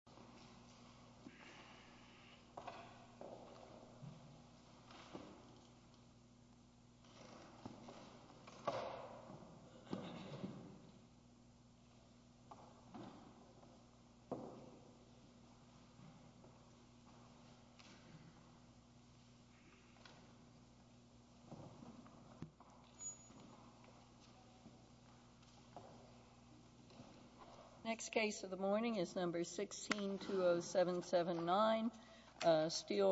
Steele v. Perry's Restaurant, L.L. Steele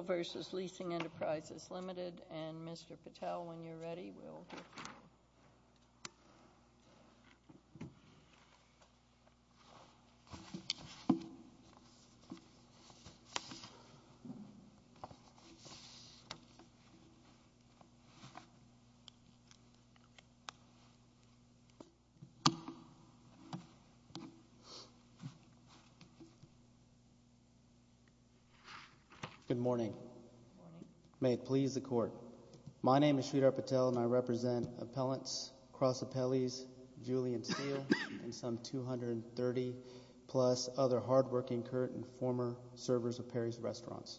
v. Leasing Enterprises Limited, and Mr. Patel, when you're ready, we'll hear from you. Good morning. May it please the Court, my name is Sridhar Patel and I represent appellants, cross appellees, Julian Steele and some 230 plus other hardworking current and former servers of Perry's Restaurants.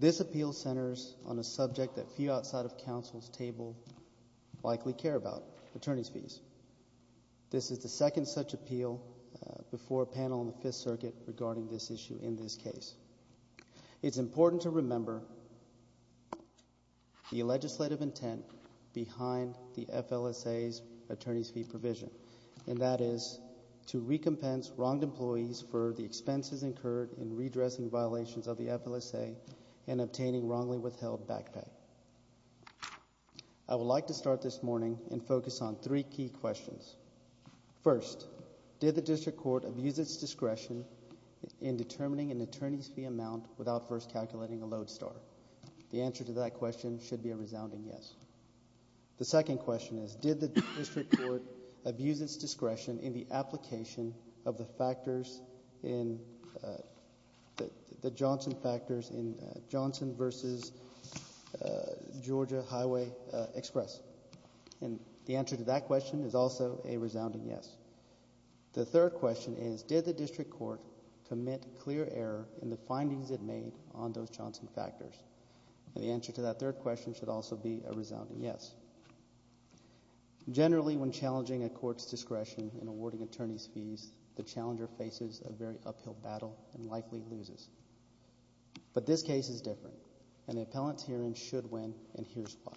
This appeal centers on a subject that few outside of counsel's table likely care about, attorney's fees. This is the second such appeal before a panel in the Fifth Circuit regarding this issue in this case. It's important to remember the legislative intent behind the FLSA's attorney's fee provision, and that is to recompense wronged employees for the expenses incurred in redressing violations of the FLSA and obtaining wrongly withheld back pay. I would like to start this morning and focus on three key questions. First, did the District Court abuse its discretion in determining an attorney's fee amount without first calculating a load star? The answer to that question should be a resounding yes. The second question is, did the District Court abuse its discretion in the application of the factors in, the Johnson factors in Johnson versus Georgia Highway Express? And the answer to that question is also a resounding yes. The third question is, did the District Court commit clear error in the findings it made on those Johnson factors? And the answer to that third question should also be a resounding yes. Generally, when challenging a court's discretion in awarding attorney's fees, the challenger faces a very uphill battle and likely loses. But this case is different, and the appellant's hearing should win, and here's why.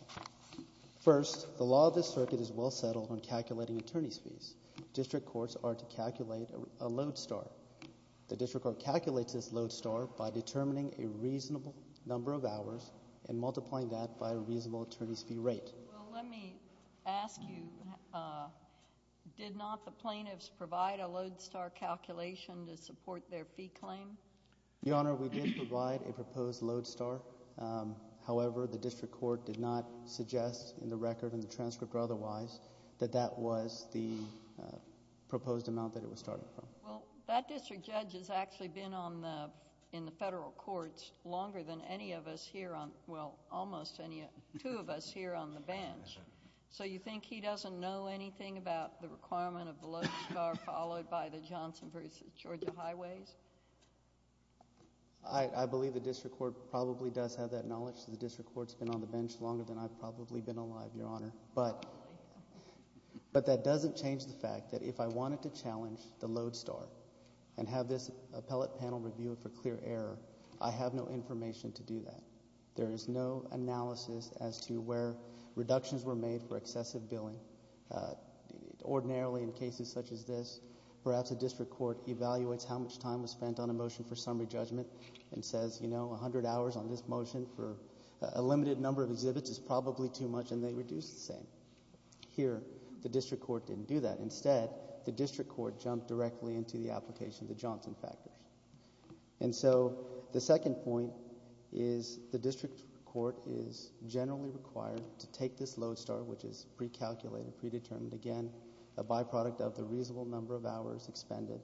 First, the law of this circuit is well settled on calculating attorney's fees. District courts are to calculate a load star. The District Court calculates this load star by determining a reasonable number of hours and multiplying that by a reasonable attorney's fee rate. Well, let me ask you, did not the plaintiffs provide a load star calculation to support their fee claim? Your Honor, we did provide a proposed load star. However, the District Court did not suggest in the record, in the transcript or otherwise, that that was the proposed amount that it was starting from. Well, that District Judge has actually been on the, in the federal courts longer than any of us here on, well, almost any, two of us here on the bench. So you think he doesn't know anything about the requirement of the load star followed by the Johnson v. Georgia Highways? I believe the District Court probably does have that knowledge. The District Court's been on the bench longer than I've probably been alive, Your Honor. But that doesn't change the fact that if I wanted to challenge the load star and have this appellate panel review it for clear error, I have no information to do that. There is no analysis as to where reductions were made for excessive billing. Ordinarily in cases such as this, perhaps a District Court evaluates how much time was spent on a motion for summary judgment and says, you know, 100 hours on this motion for a limited number of exhibits is probably too much and they reduce the same. Here, the District Court didn't do that. Instead, the District Court jumped directly into the application of the Johnson factors. And so the second point is the District Court is generally required to take this load star, which is precalculated, predetermined, again, a byproduct of the reasonable number of hours expended,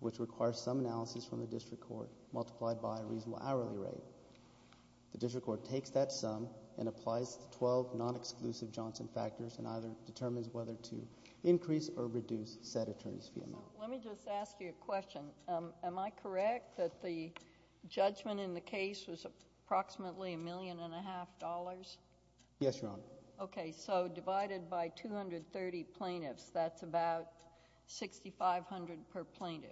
which requires some analysis from the District Court multiplied by a reasonable hourly rate. The District Court takes that sum and applies the 12 non-exclusive Johnson factors and either determines whether to increase or reduce said attorney's fee amount. Let me just ask you a question. Am I correct that the judgment in the case was approximately $1.5 million? Yes, Your Honor. Okay, so divided by 230 plaintiffs, that's about $6,500 per plaintiff.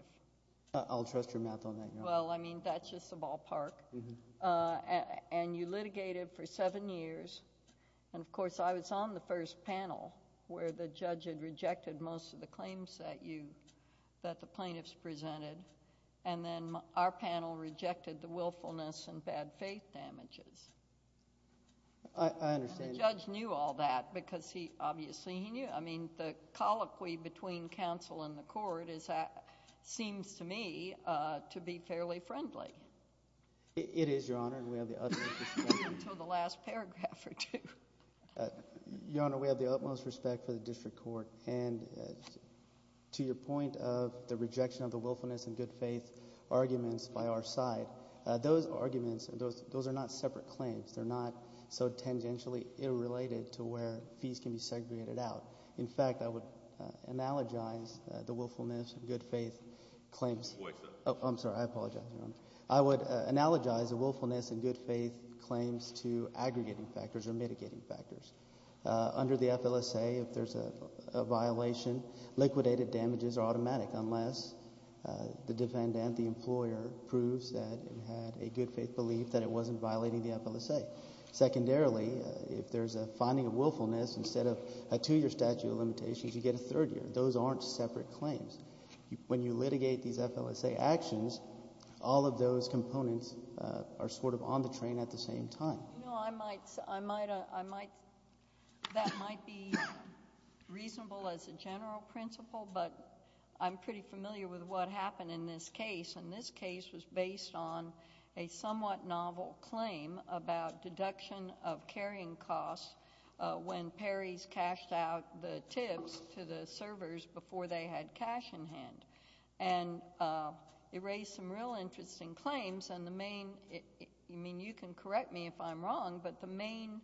I'll trust your math on that, Your Honor. Well, I mean, that's just the ballpark. And you litigated for seven years and, of course, I was on the first panel where the judge had rejected most of the claims that the plaintiffs presented and then our panel rejected the willfulness and bad faith damages. I understand. And the judge knew all that because he obviously knew. I mean, the colloquy between counsel and the court seems to me to be fairly friendly. It is, Your Honor, and we have the utmost respect. Until the last paragraph or two. Your Honor, we have the utmost respect for the District Court. And to your point of the rejection of the willfulness and good faith arguments by our side, those arguments, those are not separate claims. They're not so tangentially related to where fees can be segregated out. In fact, I would analogize the willfulness and good faith claims. Oh, I'm sorry. I apologize, Your Honor. I would analogize the willfulness and good faith claims to aggregating factors or mitigating factors. Under the FLSA, if there's a violation, liquidated damages are automatic unless the defendant, the employer, proves that it had a good faith belief that it wasn't violating the FLSA. Secondarily, if there's a finding of willfulness instead of a two-year statute of limitations, you get a third year. Those aren't separate claims. When you litigate these FLSA actions, all of those components are sort of on the train at the same time. No, I might, I might, I might, that might be reasonable as a general principle, but I'm pretty familiar with what happened in this case. And this case was based on a somewhat novel claim about deduction of carrying costs when Perrys cashed out the tips to the servers before they had cash in hand. And it raised some real interesting claims. And the main, I mean, you can correct me if I'm wrong, but the main,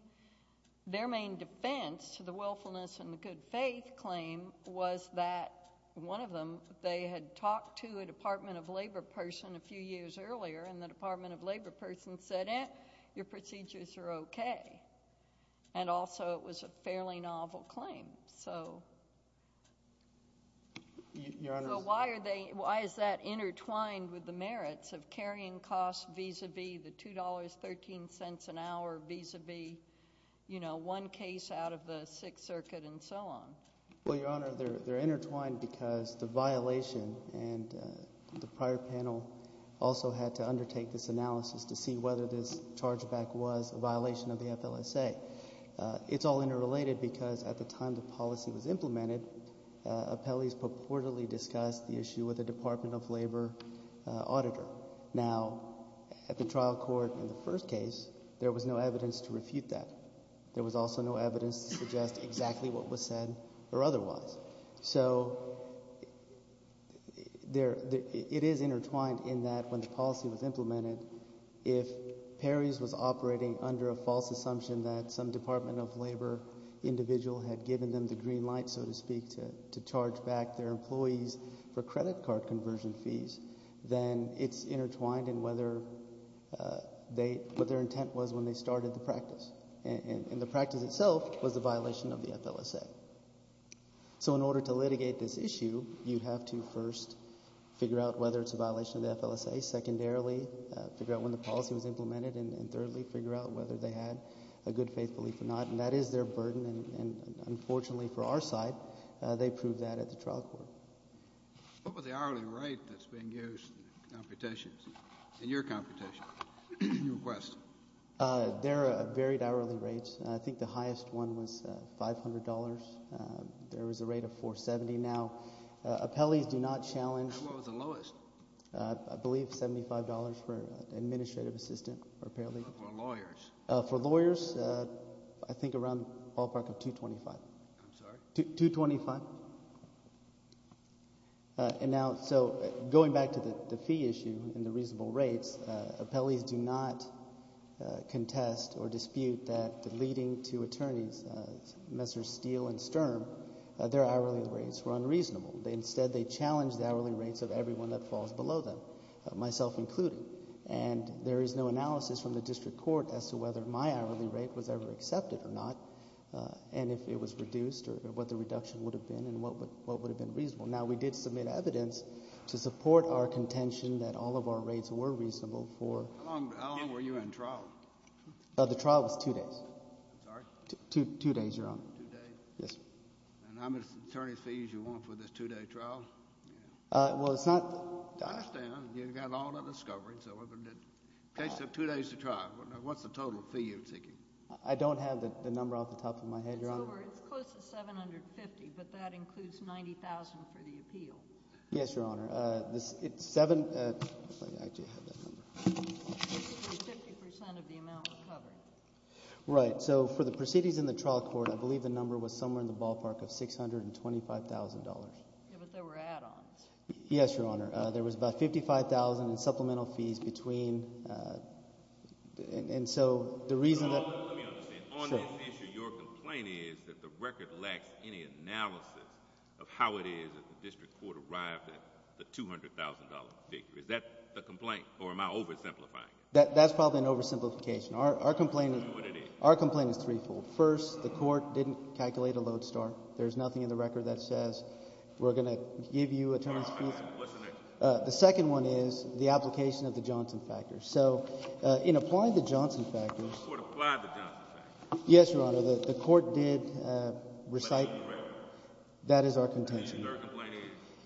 their main defense to the willfulness and the good faith claim was that one of them, they had talked to a Department of Labor person a few years earlier, and the Department of Labor person said, eh, your procedures are okay. And also it was a fairly novel claim. So why are they, why is that intertwined with the merits of carrying costs vis-à-vis the $2.13 an hour vis-à-vis, you know, one case out of the Sixth Circuit and so on? Well, Your Honor, they're intertwined because the violation, and the prior panel also had to undertake this analysis to see whether this charge back was a violation of the FLSA. It's all interrelated because at the time the policy was implemented, appellees purportedly discussed the issue with a Department of Labor auditor. Now, at the trial court in the first case, there was no evidence to refute that. There was also no evidence to suggest exactly what was said or otherwise. So it is intertwined in that when the policy was implemented, if Perry's was operating under a false assumption that some Department of Labor individual had given them the green light, so to speak, to charge back their employees for credit card conversion fees, then it's intertwined in whether they, what their intent was when they started the practice. And the practice itself was a violation of the FLSA. So in order to litigate this issue, you have to first figure out whether it's a violation of the FLSA. Secondarily, figure out when the policy was implemented. And thirdly, figure out whether they had a good faith belief or not. And that is their burden, and unfortunately for our side, they proved that at the trial court. What was the hourly rate that's being used in the computations, in your computations, in your requests? There are varied hourly rates. I think the highest one was $500. There was a rate of $470. Now, appellees do not challenge— What was the lowest? I believe $75 for an administrative assistant or a paralegal. For lawyers? For lawyers, I think around the ballpark of $225. I'm sorry? $225. And now, so going back to the fee issue and the reasonable rates, appellees do not contest or dispute that the leading two attorneys, Messrs. Steele and Sturm, their hourly rates were unreasonable. Instead, they challenged the hourly rates of everyone that falls below them, myself included. And there is no analysis from the district court as to whether my hourly rate was ever accepted or not and if it was reduced or what the reduction would have been and what would have been reasonable. Now, we did submit evidence to support our contention that all of our rates were reasonable for— How long were you in trial? The trial was two days. I'm sorry? Two days, Your Honor. Two days? Yes, sir. And I'm as attorney's fee as you want for this two-day trial? Well, it's not— I understand. You've got all the discovery. So in the case of two days to trial, what's the total fee you're seeking? I don't have the number off the top of my head, Your Honor. It's over—it's close to $750,000, but that includes $90,000 for the appeal. Yes, Your Honor. It's $750,000 of the amount we're covering. Right. So for the proceedings in the trial court, I believe the number was somewhere in the ballpark of $625,000. Yeah, but there were add-ons. Yes, Your Honor. There was about $55,000 in supplemental fees between—and so the reason that— Let me understand. On this issue, your complaint is that the record lacks any analysis of how it is that the district court arrived at the $200,000 figure. Is that the complaint or am I oversimplifying it? That's probably an oversimplification. Our complaint is threefold. First, the court didn't calculate a load star. There's nothing in the record that says we're going to give you a term's fee. What's the next one? The second one is the application of the Johnson factors. So in applying the Johnson factors— The court applied the Johnson factors. Yes, Your Honor. The court did recite— That is correct. That is our contention.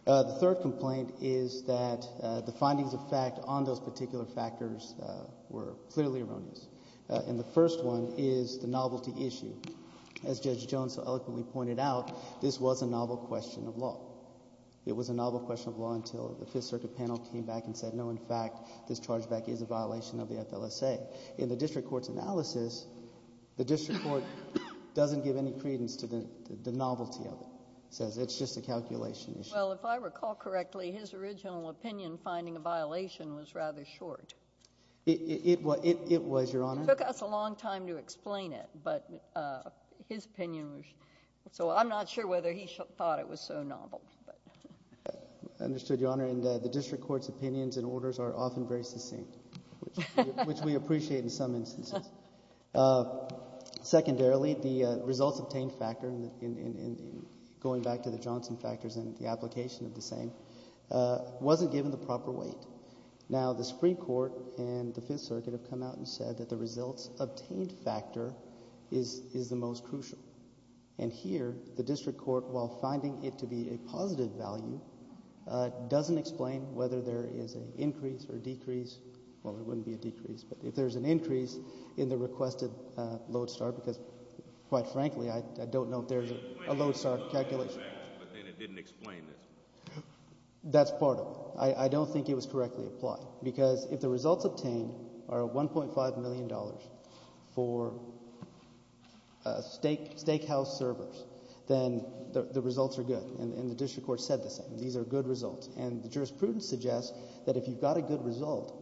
And the third complaint is? The findings of fact on those particular factors were clearly erroneous. And the first one is the novelty issue. As Judge Jones so eloquently pointed out, this was a novel question of law. It was a novel question of law until the Fifth Circuit panel came back and said, no, in fact, this charge back is a violation of the FLSA. In the district court's analysis, the district court doesn't give any credence to the novelty of it. It says it's just a calculation issue. Well, if I recall correctly, his original opinion finding a violation was rather short. It was, Your Honor. It took us a long time to explain it, but his opinion was short. So I'm not sure whether he thought it was so novel. I understood, Your Honor. And the district court's opinions and orders are often very succinct, which we appreciate in some instances. Secondarily, the results obtained factor, going back to the Johnson factors and the application of the same, wasn't given the proper weight. Now, the Supreme Court and the Fifth Circuit have come out and said that the results obtained factor is the most crucial. And here, the district court, while finding it to be a positive value, doesn't explain whether there is an increase or decrease. Well, there wouldn't be a decrease, but if there's an increase in the requested load star, because quite frankly, I don't know if there's a load star calculation. But then it didn't explain this. That's part of it. I don't think it was correctly applied, because if the results obtained are $1.5 million for steakhouse servers, then the results are good. And the district court said the same. These are good results. And the jurisprudence suggests that if you've got a good result,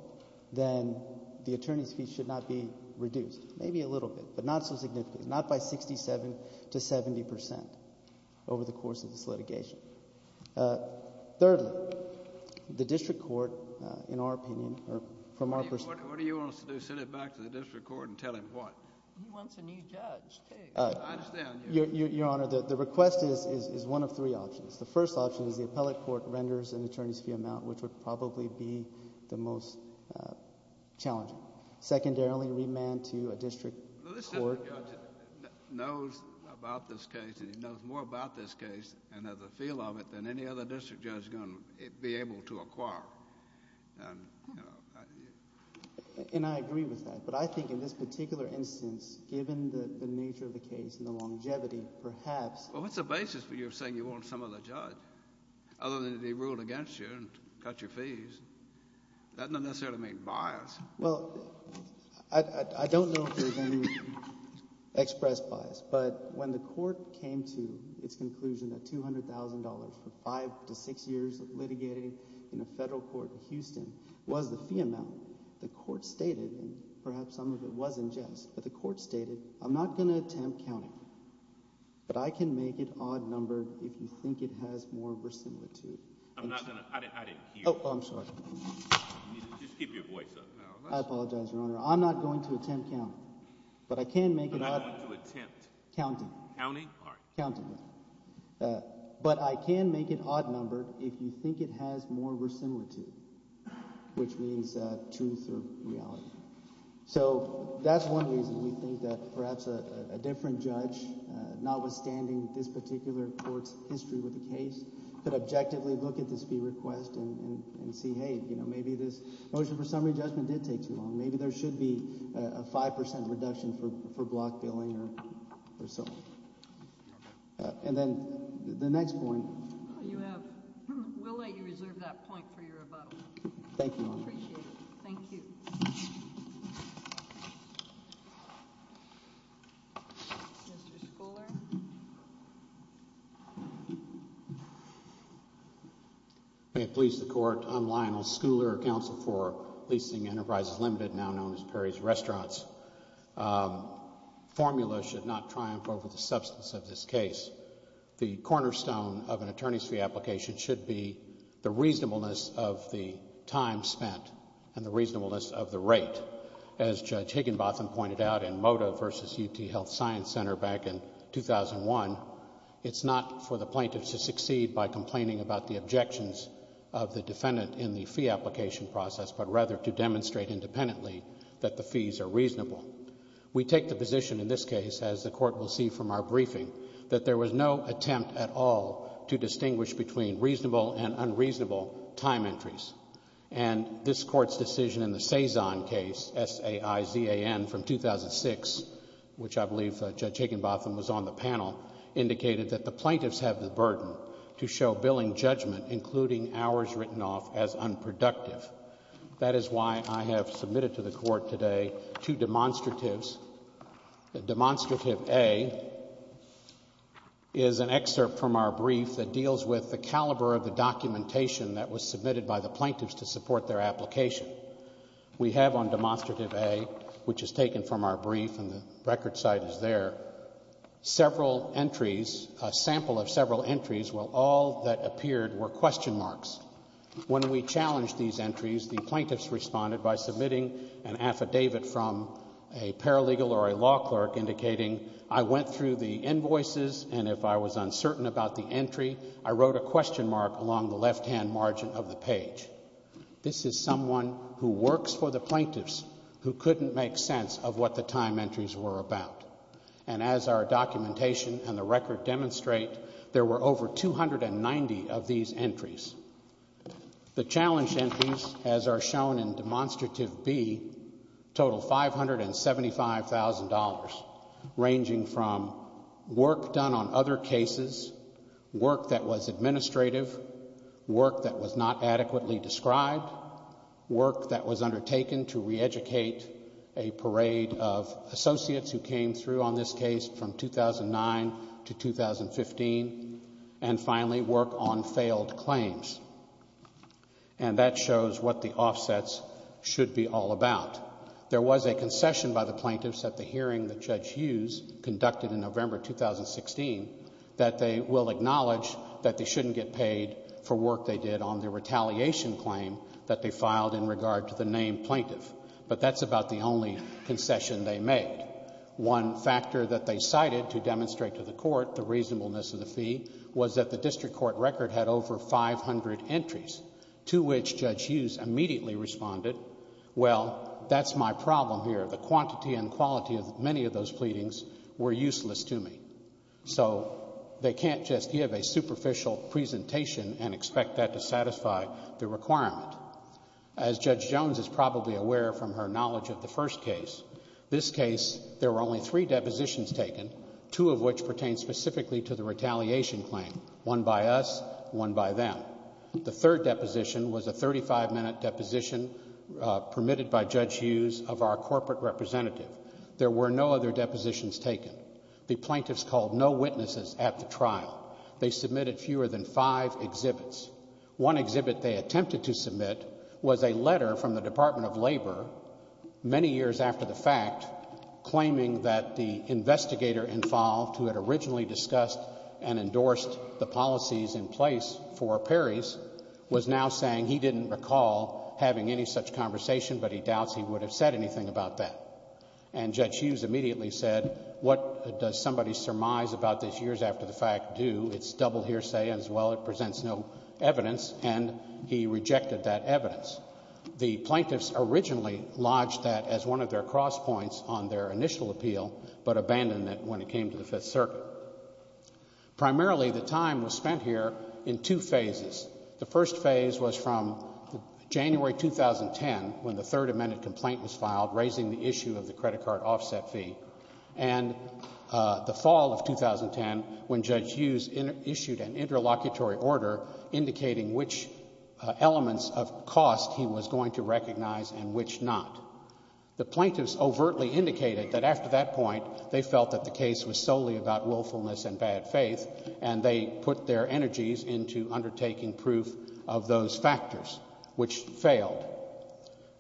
then the attorney's fee should not be reduced, maybe a little bit, but not so significantly, not by 67 to 70 percent over the course of this litigation. Thirdly, the district court, in our opinion, or from our perspective— What do you want us to do, send it back to the district court and tell him what? He wants a new judge. I understand. Your Honor, the request is one of three options. The first option is the appellate court renders an attorney's fee amount, which would probably be the most challenging. Secondarily, remand to a district court— Well, this district judge knows about this case, and he knows more about this case and has a feel of it than any other district judge is going to be able to acquire. And I agree with that. But I think in this particular instance, given the nature of the case and the longevity, perhaps— Well, what's the basis for you saying you want some other judge other than to be ruled against you and cut your fees? That doesn't necessarily mean bias. Well, I don't know if there's any expressed bias, but when the court came to its conclusion that $200,000 for five to six years of litigating in a federal court in Houston was the fee amount, the court stated—and perhaps some of it was in jest— but the court stated, I'm not going to attempt counting, but I can make it odd-numbered if you think it has more resemblance to it. I'm not going to—I didn't hear you. Oh, I'm sorry. Just keep your voice up. I apologize, Your Honor. I'm not going to attempt counting, but I can make it odd— I'm not going to attempt— Counting. Counting? Counting. But I can make it odd-numbered if you think it has more resemblance to it, which means truth or reality. So that's one reason we think that perhaps a different judge, notwithstanding this particular court's history with the case, could objectively look at this fee request and see, hey, maybe this motion for summary judgment did take too long. Maybe there should be a 5% reduction for block billing or something. And then the next point— You have—we'll let you reserve that point for your rebuttal. Thank you, Your Honor. Appreciate it. Thank you. Mr. Schouler. May it please the Court, I'm Lionel Schouler, counsel for Leasing Enterprises Limited, now known as Perry's Restaurants. Formula should not triumph over the substance of this case. The cornerstone of an attorney's fee application should be the reasonableness of the time spent and the reasonableness of the rate. As Judge Higginbotham pointed out in Moda v. UT Health Science Center back in 2001, it's not for the plaintiff to succeed by complaining about the objections of the defendant in the fee application process, but rather to demonstrate independently that the fees are reasonable. We take the position in this case, as the Court will see from our briefing, that there was no attempt at all to distinguish between reasonable and unreasonable time entries. And this Court's decision in the Cezanne case, S-A-I-Z-A-N, from 2006, which I believe Judge Higginbotham was on the panel, indicated that the plaintiffs have the burden to show billing judgment, including hours written off, as unproductive. That is why I have submitted to the Court today two demonstratives. Demonstrative A is an excerpt from our brief that deals with the caliber of the documentation that was submitted by the plaintiffs to support their application. We have on Demonstrative A, which is taken from our brief and the record site is there, several entries, a sample of several entries where all that appeared were question marks. When we challenged these entries, the plaintiffs responded by submitting an affidavit from a paralegal or a law clerk indicating, I went through the invoices, and if I was uncertain about the entry, I wrote a question mark along the left-hand margin of the page. This is someone who works for the plaintiffs who couldn't make sense of what the time entries were about. And as our documentation and the record demonstrate, there were over 290 of these entries. The challenge entries, as are shown in Demonstrative B, total $575,000, ranging from work done on other cases, work that was administrative, work that was not adequately described, work that was undertaken to reeducate a parade of associates who came through on this case from 2009 to 2015, and finally, work on failed claims. And that shows what the offsets should be all about. There was a concession by the plaintiffs at the hearing that Judge Hughes conducted in November 2016 that they will acknowledge that they shouldn't get paid for work they did on their retaliation claim that they filed in regard to the named plaintiff. But that's about the only concession they made. One factor that they cited to demonstrate to the court the reasonableness of the fee was that the district court record had over 500 entries, two of which Judge Hughes immediately responded, well, that's my problem here. The quantity and quality of many of those pleadings were useless to me. So they can't just give a superficial presentation and expect that to satisfy the requirement. As Judge Jones is probably aware from her knowledge of the first case, this case, there were only three depositions taken, two of which pertain specifically to the retaliation claim, one by us, one by them. The third deposition was a 35-minute deposition permitted by Judge Hughes of our corporate representative. There were no other depositions taken. The plaintiffs called no witnesses at the trial. They submitted fewer than five exhibits. One exhibit they attempted to submit was a letter from the Department of Labor many years after the fact, was now saying he didn't recall having any such conversation, but he doubts he would have said anything about that. And Judge Hughes immediately said, what does somebody surmise about this years after the fact do? It's double hearsay as well. It presents no evidence. And he rejected that evidence. The plaintiffs originally lodged that as one of their cross points on their initial appeal, but abandoned it when it came to the Fifth Circuit. Primarily, the time was spent here in two phases. The first phase was from January 2010, when the third amended complaint was filed, raising the issue of the credit card offset fee, and the fall of 2010, when Judge Hughes issued an interlocutory order indicating which elements of cost he was going to recognize and which not. The plaintiffs overtly indicated that after that point, they felt that the case was solely about willfulness and bad faith, and they put their energies into undertaking proof of those factors, which failed.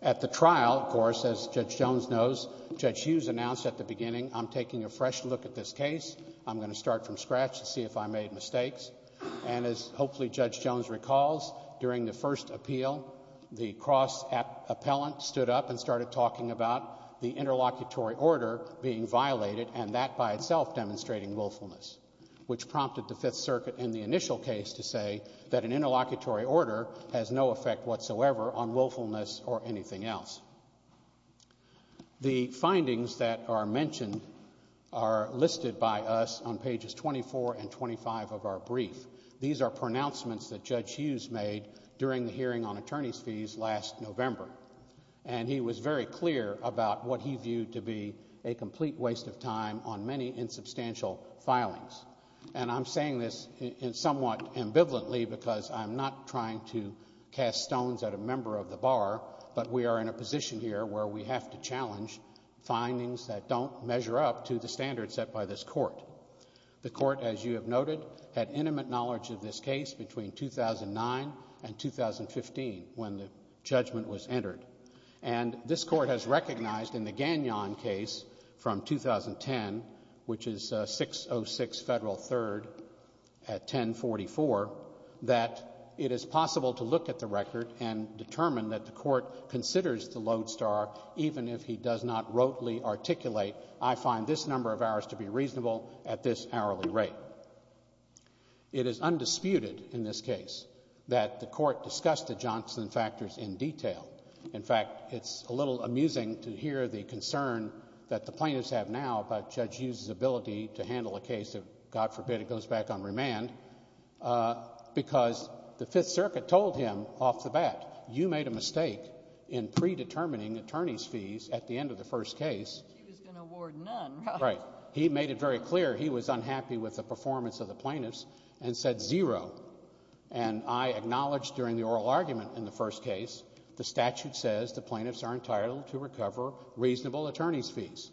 At the trial, of course, as Judge Jones knows, Judge Hughes announced at the beginning, I'm taking a fresh look at this case. I'm going to start from scratch to see if I made mistakes. And as hopefully Judge Jones recalls, during the first appeal, the cross appellant stood up and started talking about the interlocutory order being violated and that by itself demonstrating willfulness, which prompted the Fifth Circuit in the initial case to say that an interlocutory order has no effect whatsoever on willfulness or anything else. The findings that are mentioned are listed by us on pages 24 and 25 of our brief. These are pronouncements that Judge Hughes made during the hearing on attorney's fees last November, and he was very clear about what he viewed to be a complete waste of time on many insubstantial filings. And I'm saying this somewhat ambivalently because I'm not trying to cast stones at a member of the bar, but we are in a position here where we have to challenge findings that don't measure up to the standards set by this court. The court, as you have noted, had intimate knowledge of this case between 2009 and 2015 when the judgment was entered. And this court has recognized in the Gagnon case from 2010, which is 606 Federal 3rd at 1044, that it is possible to look at the record and determine that the court considers the lodestar even if he does not wrotely articulate, I find this number of hours to be reasonable at this hourly rate. It is undisputed in this case that the court discussed the Johnson factors in detail. In fact, it's a little amusing to hear the concern that the plaintiffs have now about Judge Hughes' ability to handle a case that, God forbid, it goes back on remand, because the Fifth Circuit told him off the bat, you made a mistake in predetermining attorney's fees at the end of the first case. He was going to award none. Right. He made it very clear he was unhappy with the performance of the plaintiffs and said zero. And I acknowledged during the oral argument in the first case the statute says the plaintiffs are entitled to recover reasonable attorney's fees.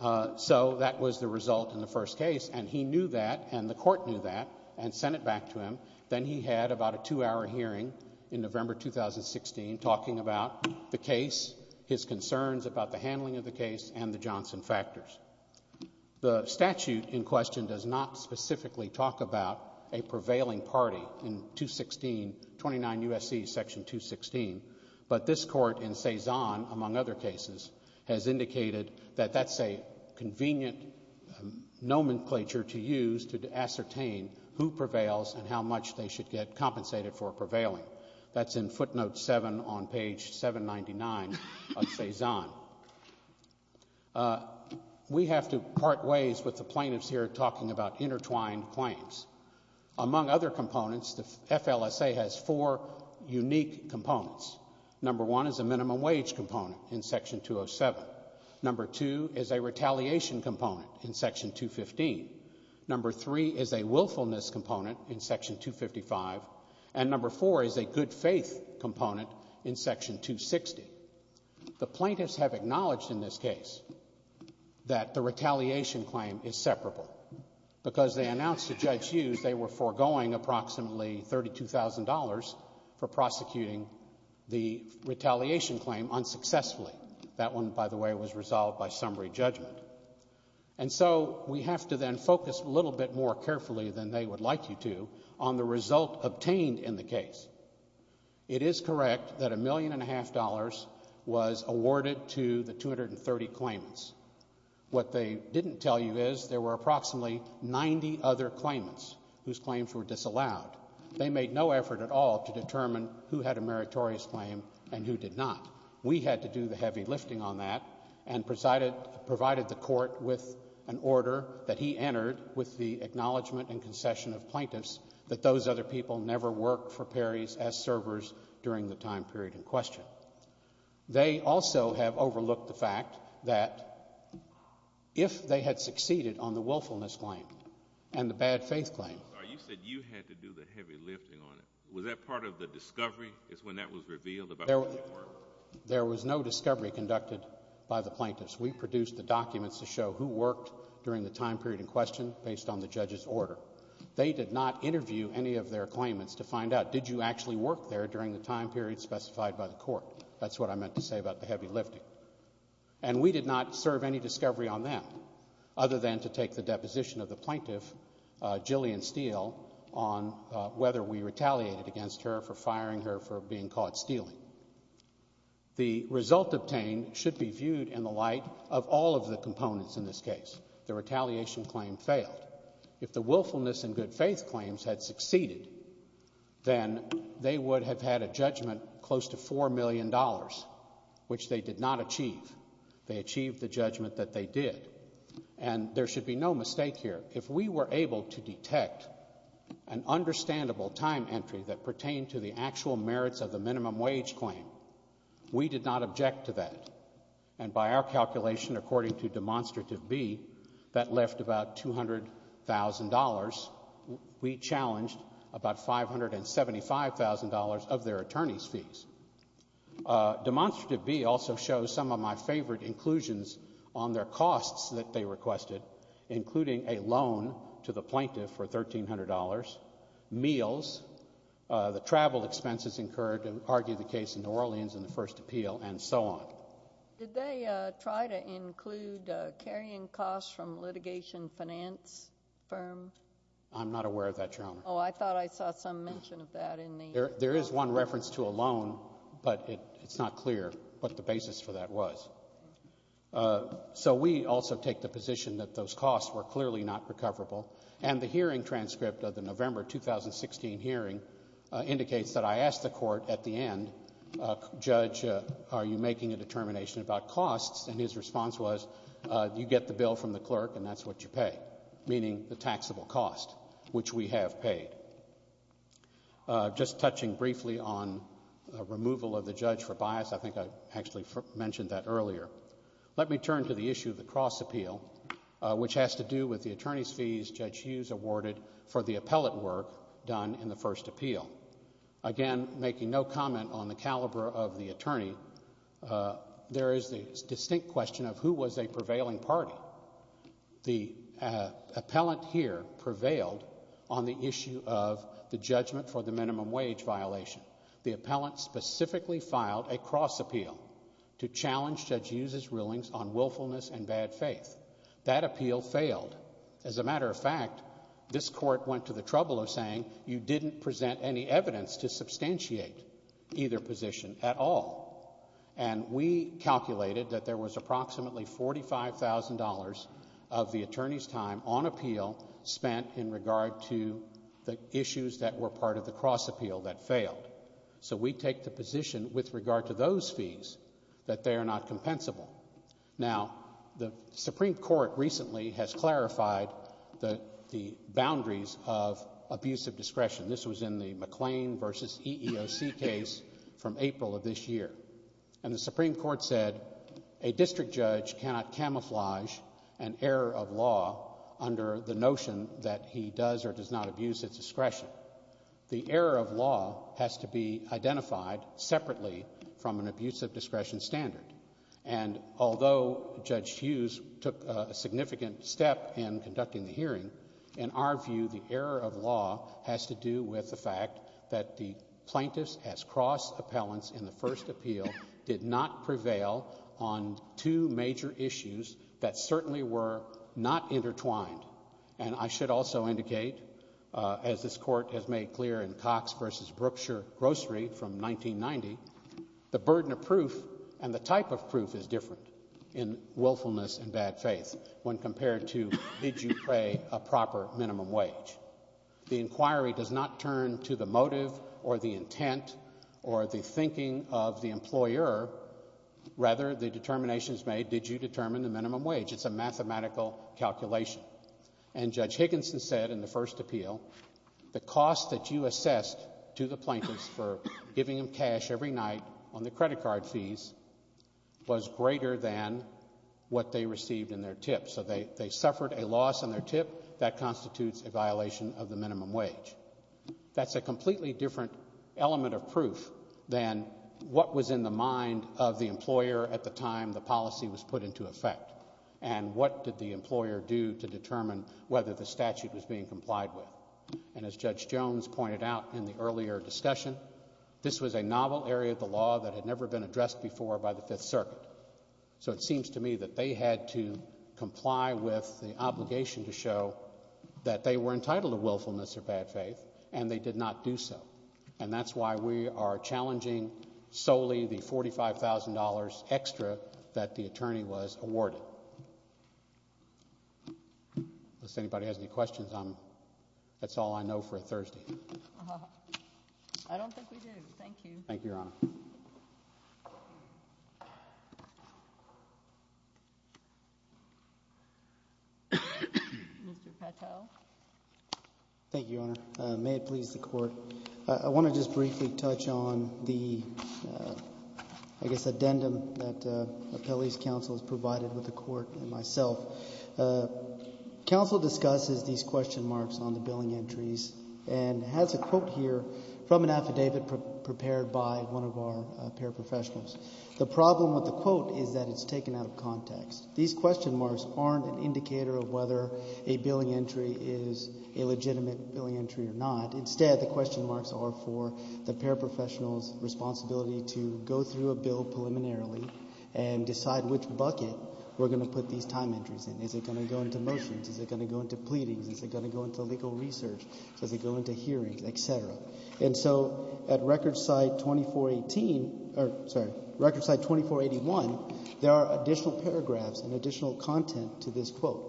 So that was the result in the first case, and he knew that, and the court knew that, and sent it back to him. Then he had about a two-hour hearing in November 2016 talking about the case, his concerns about the handling of the case, and the Johnson factors. The statute in question does not specifically talk about a prevailing party in 216, 29 U.S.C. Section 216, but this court in Cezanne, among other cases, has indicated that that's a convenient nomenclature to use to ascertain who prevails and how much they should get compensated for prevailing. That's in footnote 7 on page 799 of Cezanne. We have to part ways with the plaintiffs here talking about intertwined claims. Among other components, the FLSA has four unique components. Number one is a minimum wage component in Section 207. Number two is a retaliation component in Section 215. Number three is a willfulness component in Section 255. And number four is a good faith component in Section 260. The plaintiffs have acknowledged in this case that the retaliation claim is separable. Because they announced to Judge Hughes they were foregoing approximately $32,000 for prosecuting the retaliation claim unsuccessfully. That one, by the way, was resolved by summary judgment. And so we have to then focus a little bit more carefully than they would like you to on the result obtained in the case. It is correct that $1.5 million was awarded to the 230 claimants. What they didn't tell you is there were approximately 90 other claimants whose claims were disallowed. They made no effort at all to determine who had a meritorious claim and who did not. We had to do the heavy lifting on that and provided the court with an order that he entered with the acknowledgment and concession of plaintiffs that those other people never worked for Perrys as servers during the time period in question. They also have overlooked the fact that if they had succeeded on the willfulness claim and the bad faith claim. You said you had to do the heavy lifting on it. Was that part of the discovery is when that was revealed about who you were? There was no discovery conducted by the plaintiffs. We produced the documents to show who worked during the time period in question based on the judge's order. They did not interview any of their claimants to find out. Did you actually work there during the time period specified by the court? That's what I meant to say about the heavy lifting. And we did not serve any discovery on that other than to take the deposition of the plaintiff, Jillian Steele, on whether we retaliated against her for firing her for being caught stealing. The result obtained should be viewed in the light of all of the components in this case. The retaliation claim failed. If the willfulness and good faith claims had succeeded, then they would have had a judgment close to $4 million, which they did not achieve. They achieved the judgment that they did. And there should be no mistake here. If we were able to detect an understandable time entry that pertained to the actual merits of the minimum wage claim, we did not object to that. And by our calculation, according to Demonstrative B, that left about $200,000. We challenged about $575,000 of their attorney's fees. Demonstrative B also shows some of my favorite inclusions on their costs that they requested, including a loan to the plaintiff for $1,300, meals, the travel expenses incurred to argue the case in New Orleans in the first appeal, and so on. Did they try to include carrying costs from litigation finance firm? I'm not aware of that, Your Honor. Oh, I thought I saw some mention of that in the – There is one reference to a loan, but it's not clear what the basis for that was. So we also take the position that those costs were clearly not recoverable. And the hearing transcript of the November 2016 hearing indicates that I asked the court at the end, Judge, are you making a determination about costs? And his response was, you get the bill from the clerk and that's what you pay, meaning the taxable cost, which we have paid. Just touching briefly on removal of the judge for bias, I think I actually mentioned that earlier. Let me turn to the issue of the cross appeal, which has to do with the attorney's fees Judge Hughes awarded for the appellate work done in the first appeal. Again, making no comment on the caliber of the attorney, there is the distinct question of who was a prevailing party. The appellant here prevailed on the issue of the judgment for the minimum wage violation. The appellant specifically filed a cross appeal to challenge Judge Hughes' rulings on willfulness and bad faith. That appeal failed. As a matter of fact, this court went to the trouble of saying you didn't present any evidence to substantiate either position at all. And we calculated that there was approximately $45,000 of the attorney's time on appeal spent in regard to the issues that were part of the cross appeal that failed. So we take the position with regard to those fees that they are not compensable. Now, the Supreme Court recently has clarified the boundaries of abusive discretion. This was in the McLean v. EEOC case from April of this year. And the Supreme Court said a district judge cannot camouflage an error of law under the notion that he does or does not abuse his discretion. The error of law has to be identified separately from an abusive discretion standard. And although Judge Hughes took a significant step in conducting the hearing, in our view, the error of law has to do with the fact that the plaintiffs as cross appellants in the first appeal did not prevail on two major issues that certainly were not intertwined. And I should also indicate, as this court has made clear in Cox v. Brookshire Grocery from 1990, the burden of proof and the type of proof is different in willfulness and bad faith when compared to did you pay a proper minimum wage. The inquiry does not turn to the motive or the intent or the thinking of the employer. Rather, the determination is made, did you determine the minimum wage? It's a mathematical calculation. And Judge Higginson said in the first appeal, the cost that you assessed to the plaintiffs for giving them cash every night on the credit card fees was greater than what they received in their tip. So they suffered a loss in their tip. That constitutes a violation of the minimum wage. That's a completely different element of proof than what was in the mind of the employer at the time the policy was put into effect and what did the employer do to determine whether the statute was being complied with. And as Judge Jones pointed out in the earlier discussion, this was a novel area of the law that had never been addressed before by the Fifth Circuit. So it seems to me that they had to comply with the obligation to show that they were entitled to willfulness or bad faith and they did not do so. And that's why we are challenging solely the $45,000 extra that the attorney was awarded. Unless anybody has any questions, that's all I know for Thursday. I don't think we do. Thank you. Thank you, Your Honor. Mr. Patel. Thank you, Your Honor. May it please the Court. I want to just briefly touch on the, I guess, addendum that Appellee's Counsel has provided with the Court and myself. Counsel discusses these question marks on the billing entries and has a quote here from an affidavit prepared by one of our paraprofessionals. The problem with the quote is that it's taken out of context. These question marks aren't an indicator of whether a billing entry is a legitimate billing entry or not. Is it going to go into motions? Is it going to go into pleadings? Is it going to go into legal research? Does it go into hearings, et cetera? And so at record site 2418 or, sorry, record site 2481, there are additional paragraphs and additional content to this quote.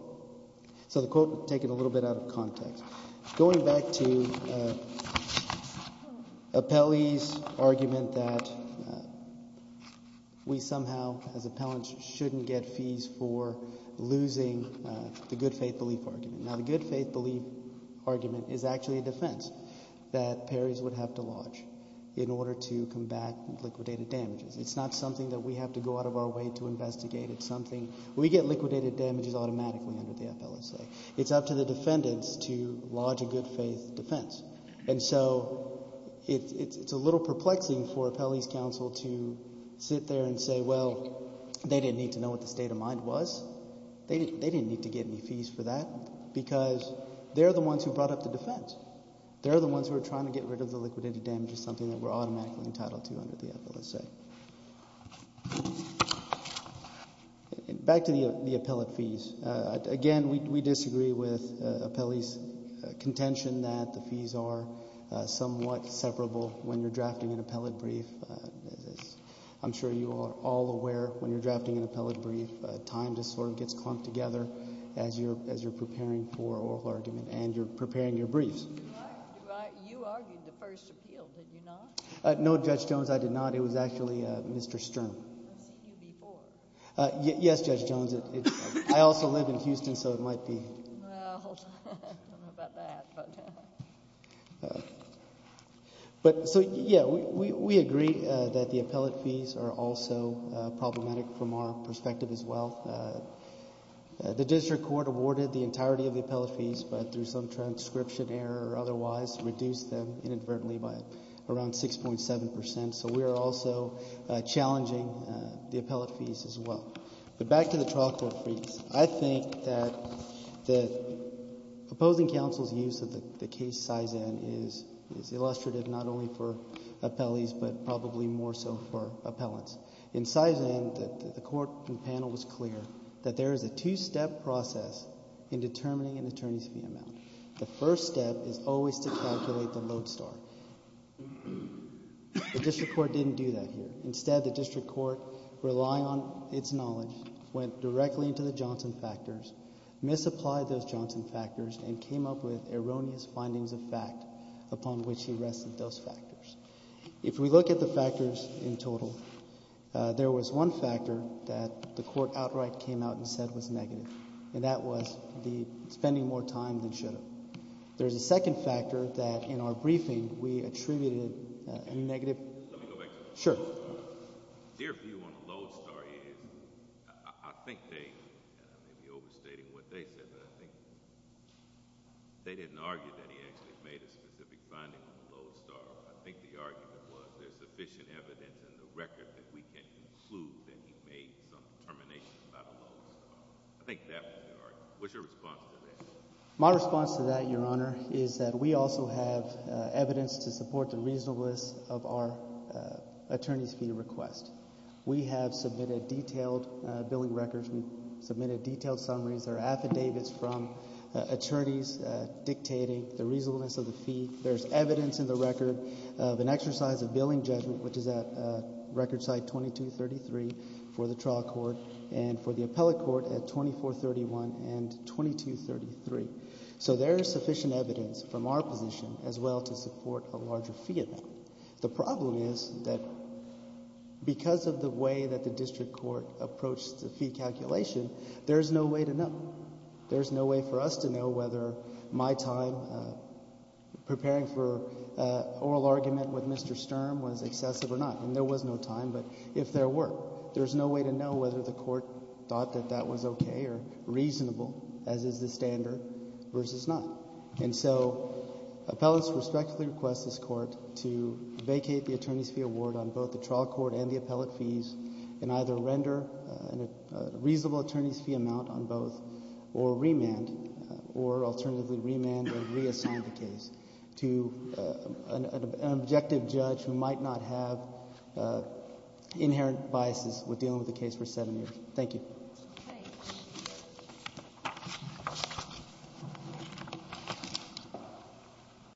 Going back to appellee's argument that we somehow as appellants shouldn't get fees for losing the good faith belief argument. Now, the good faith belief argument is actually a defense that paries would have to lodge in order to combat liquidated damages. It's not something that we have to go out of our way to investigate. It's something we get liquidated damages automatically under the FLSA. It's up to the defendants to lodge a good faith defense. And so it's a little perplexing for appellee's counsel to sit there and say, well, they didn't need to know what the state of mind was. They didn't need to get any fees for that because they're the ones who brought up the defense. They're the ones who are trying to get rid of the liquidated damages, something that we're automatically entitled to under the FLSA. Back to the appellate fees. Again, we disagree with appellee's contention that the fees are somewhat separable when you're drafting an appellate brief. I'm sure you are all aware when you're drafting an appellate brief, time just sort of gets clumped together as you're preparing for oral argument and you're preparing your briefs. You argued the first appeal, did you not? No, Judge Jones, I did not. It was actually Mr. Stern. I've seen you before. Yes, Judge Jones. I also live in Houston, so it might be. Well, I don't know about that. So, yeah, we agree that the appellate fees are also problematic from our perspective as well. The district court awarded the entirety of the appellate fees, but through some transcription error or otherwise reduced them inadvertently by around 6.7 percent. So we are also challenging the appellate fees as well. But back to the trial court briefs. I think that the opposing counsel's use of the case Cizan is illustrative not only for appellees but probably more so for appellants. In Cizan, the court panel was clear that there is a two-step process in determining an attorney's fee amount. The first step is always to calculate the load star. The district court didn't do that here. Instead, the district court relied on its knowledge, went directly into the Johnson factors, misapplied those Johnson factors and came up with erroneous findings of fact upon which he rested those factors. If we look at the factors in total, there was one factor that the court outright came out and said was negative, and that was the spending more time than should have. There's a second factor that in our briefing we attributed a negative. Let me go back to that. Sure. Their view on the load star is, I think they, and I may be overstating what they said, but I think they didn't argue that he actually made a specific finding on the load star. I think the argument was there's sufficient evidence in the record that we can conclude that he made some determination about the load star. I think that was the argument. What's your response to that? My response to that, Your Honor, is that we also have evidence to support the reasonableness of our attorney's fee request. We have submitted detailed billing records. We've submitted detailed summaries. There are affidavits from attorneys dictating the reasonableness of the fee. There's evidence in the record of an exercise of billing judgment, which is at record site 2233 for the trial court and for the appellate court at 2431 and 2233. So there is sufficient evidence from our position as well to support a larger fee amount. The problem is that because of the way that the district court approached the fee calculation, there is no way to know. There is no way to know whether my time preparing for oral argument with Mr. Sturm was excessive or not. And there was no time, but if there were, there's no way to know whether the court thought that that was okay or reasonable, as is the standard, versus not. And so appellants respectfully request this Court to vacate the attorney's fee award on both the trial court and the appellate fees and either render a reasonable attorney's fee amount on both or remand or alternatively remand or reassign the case to an objective judge who might not have inherent biases with dealing with the case for seven years. Thank you.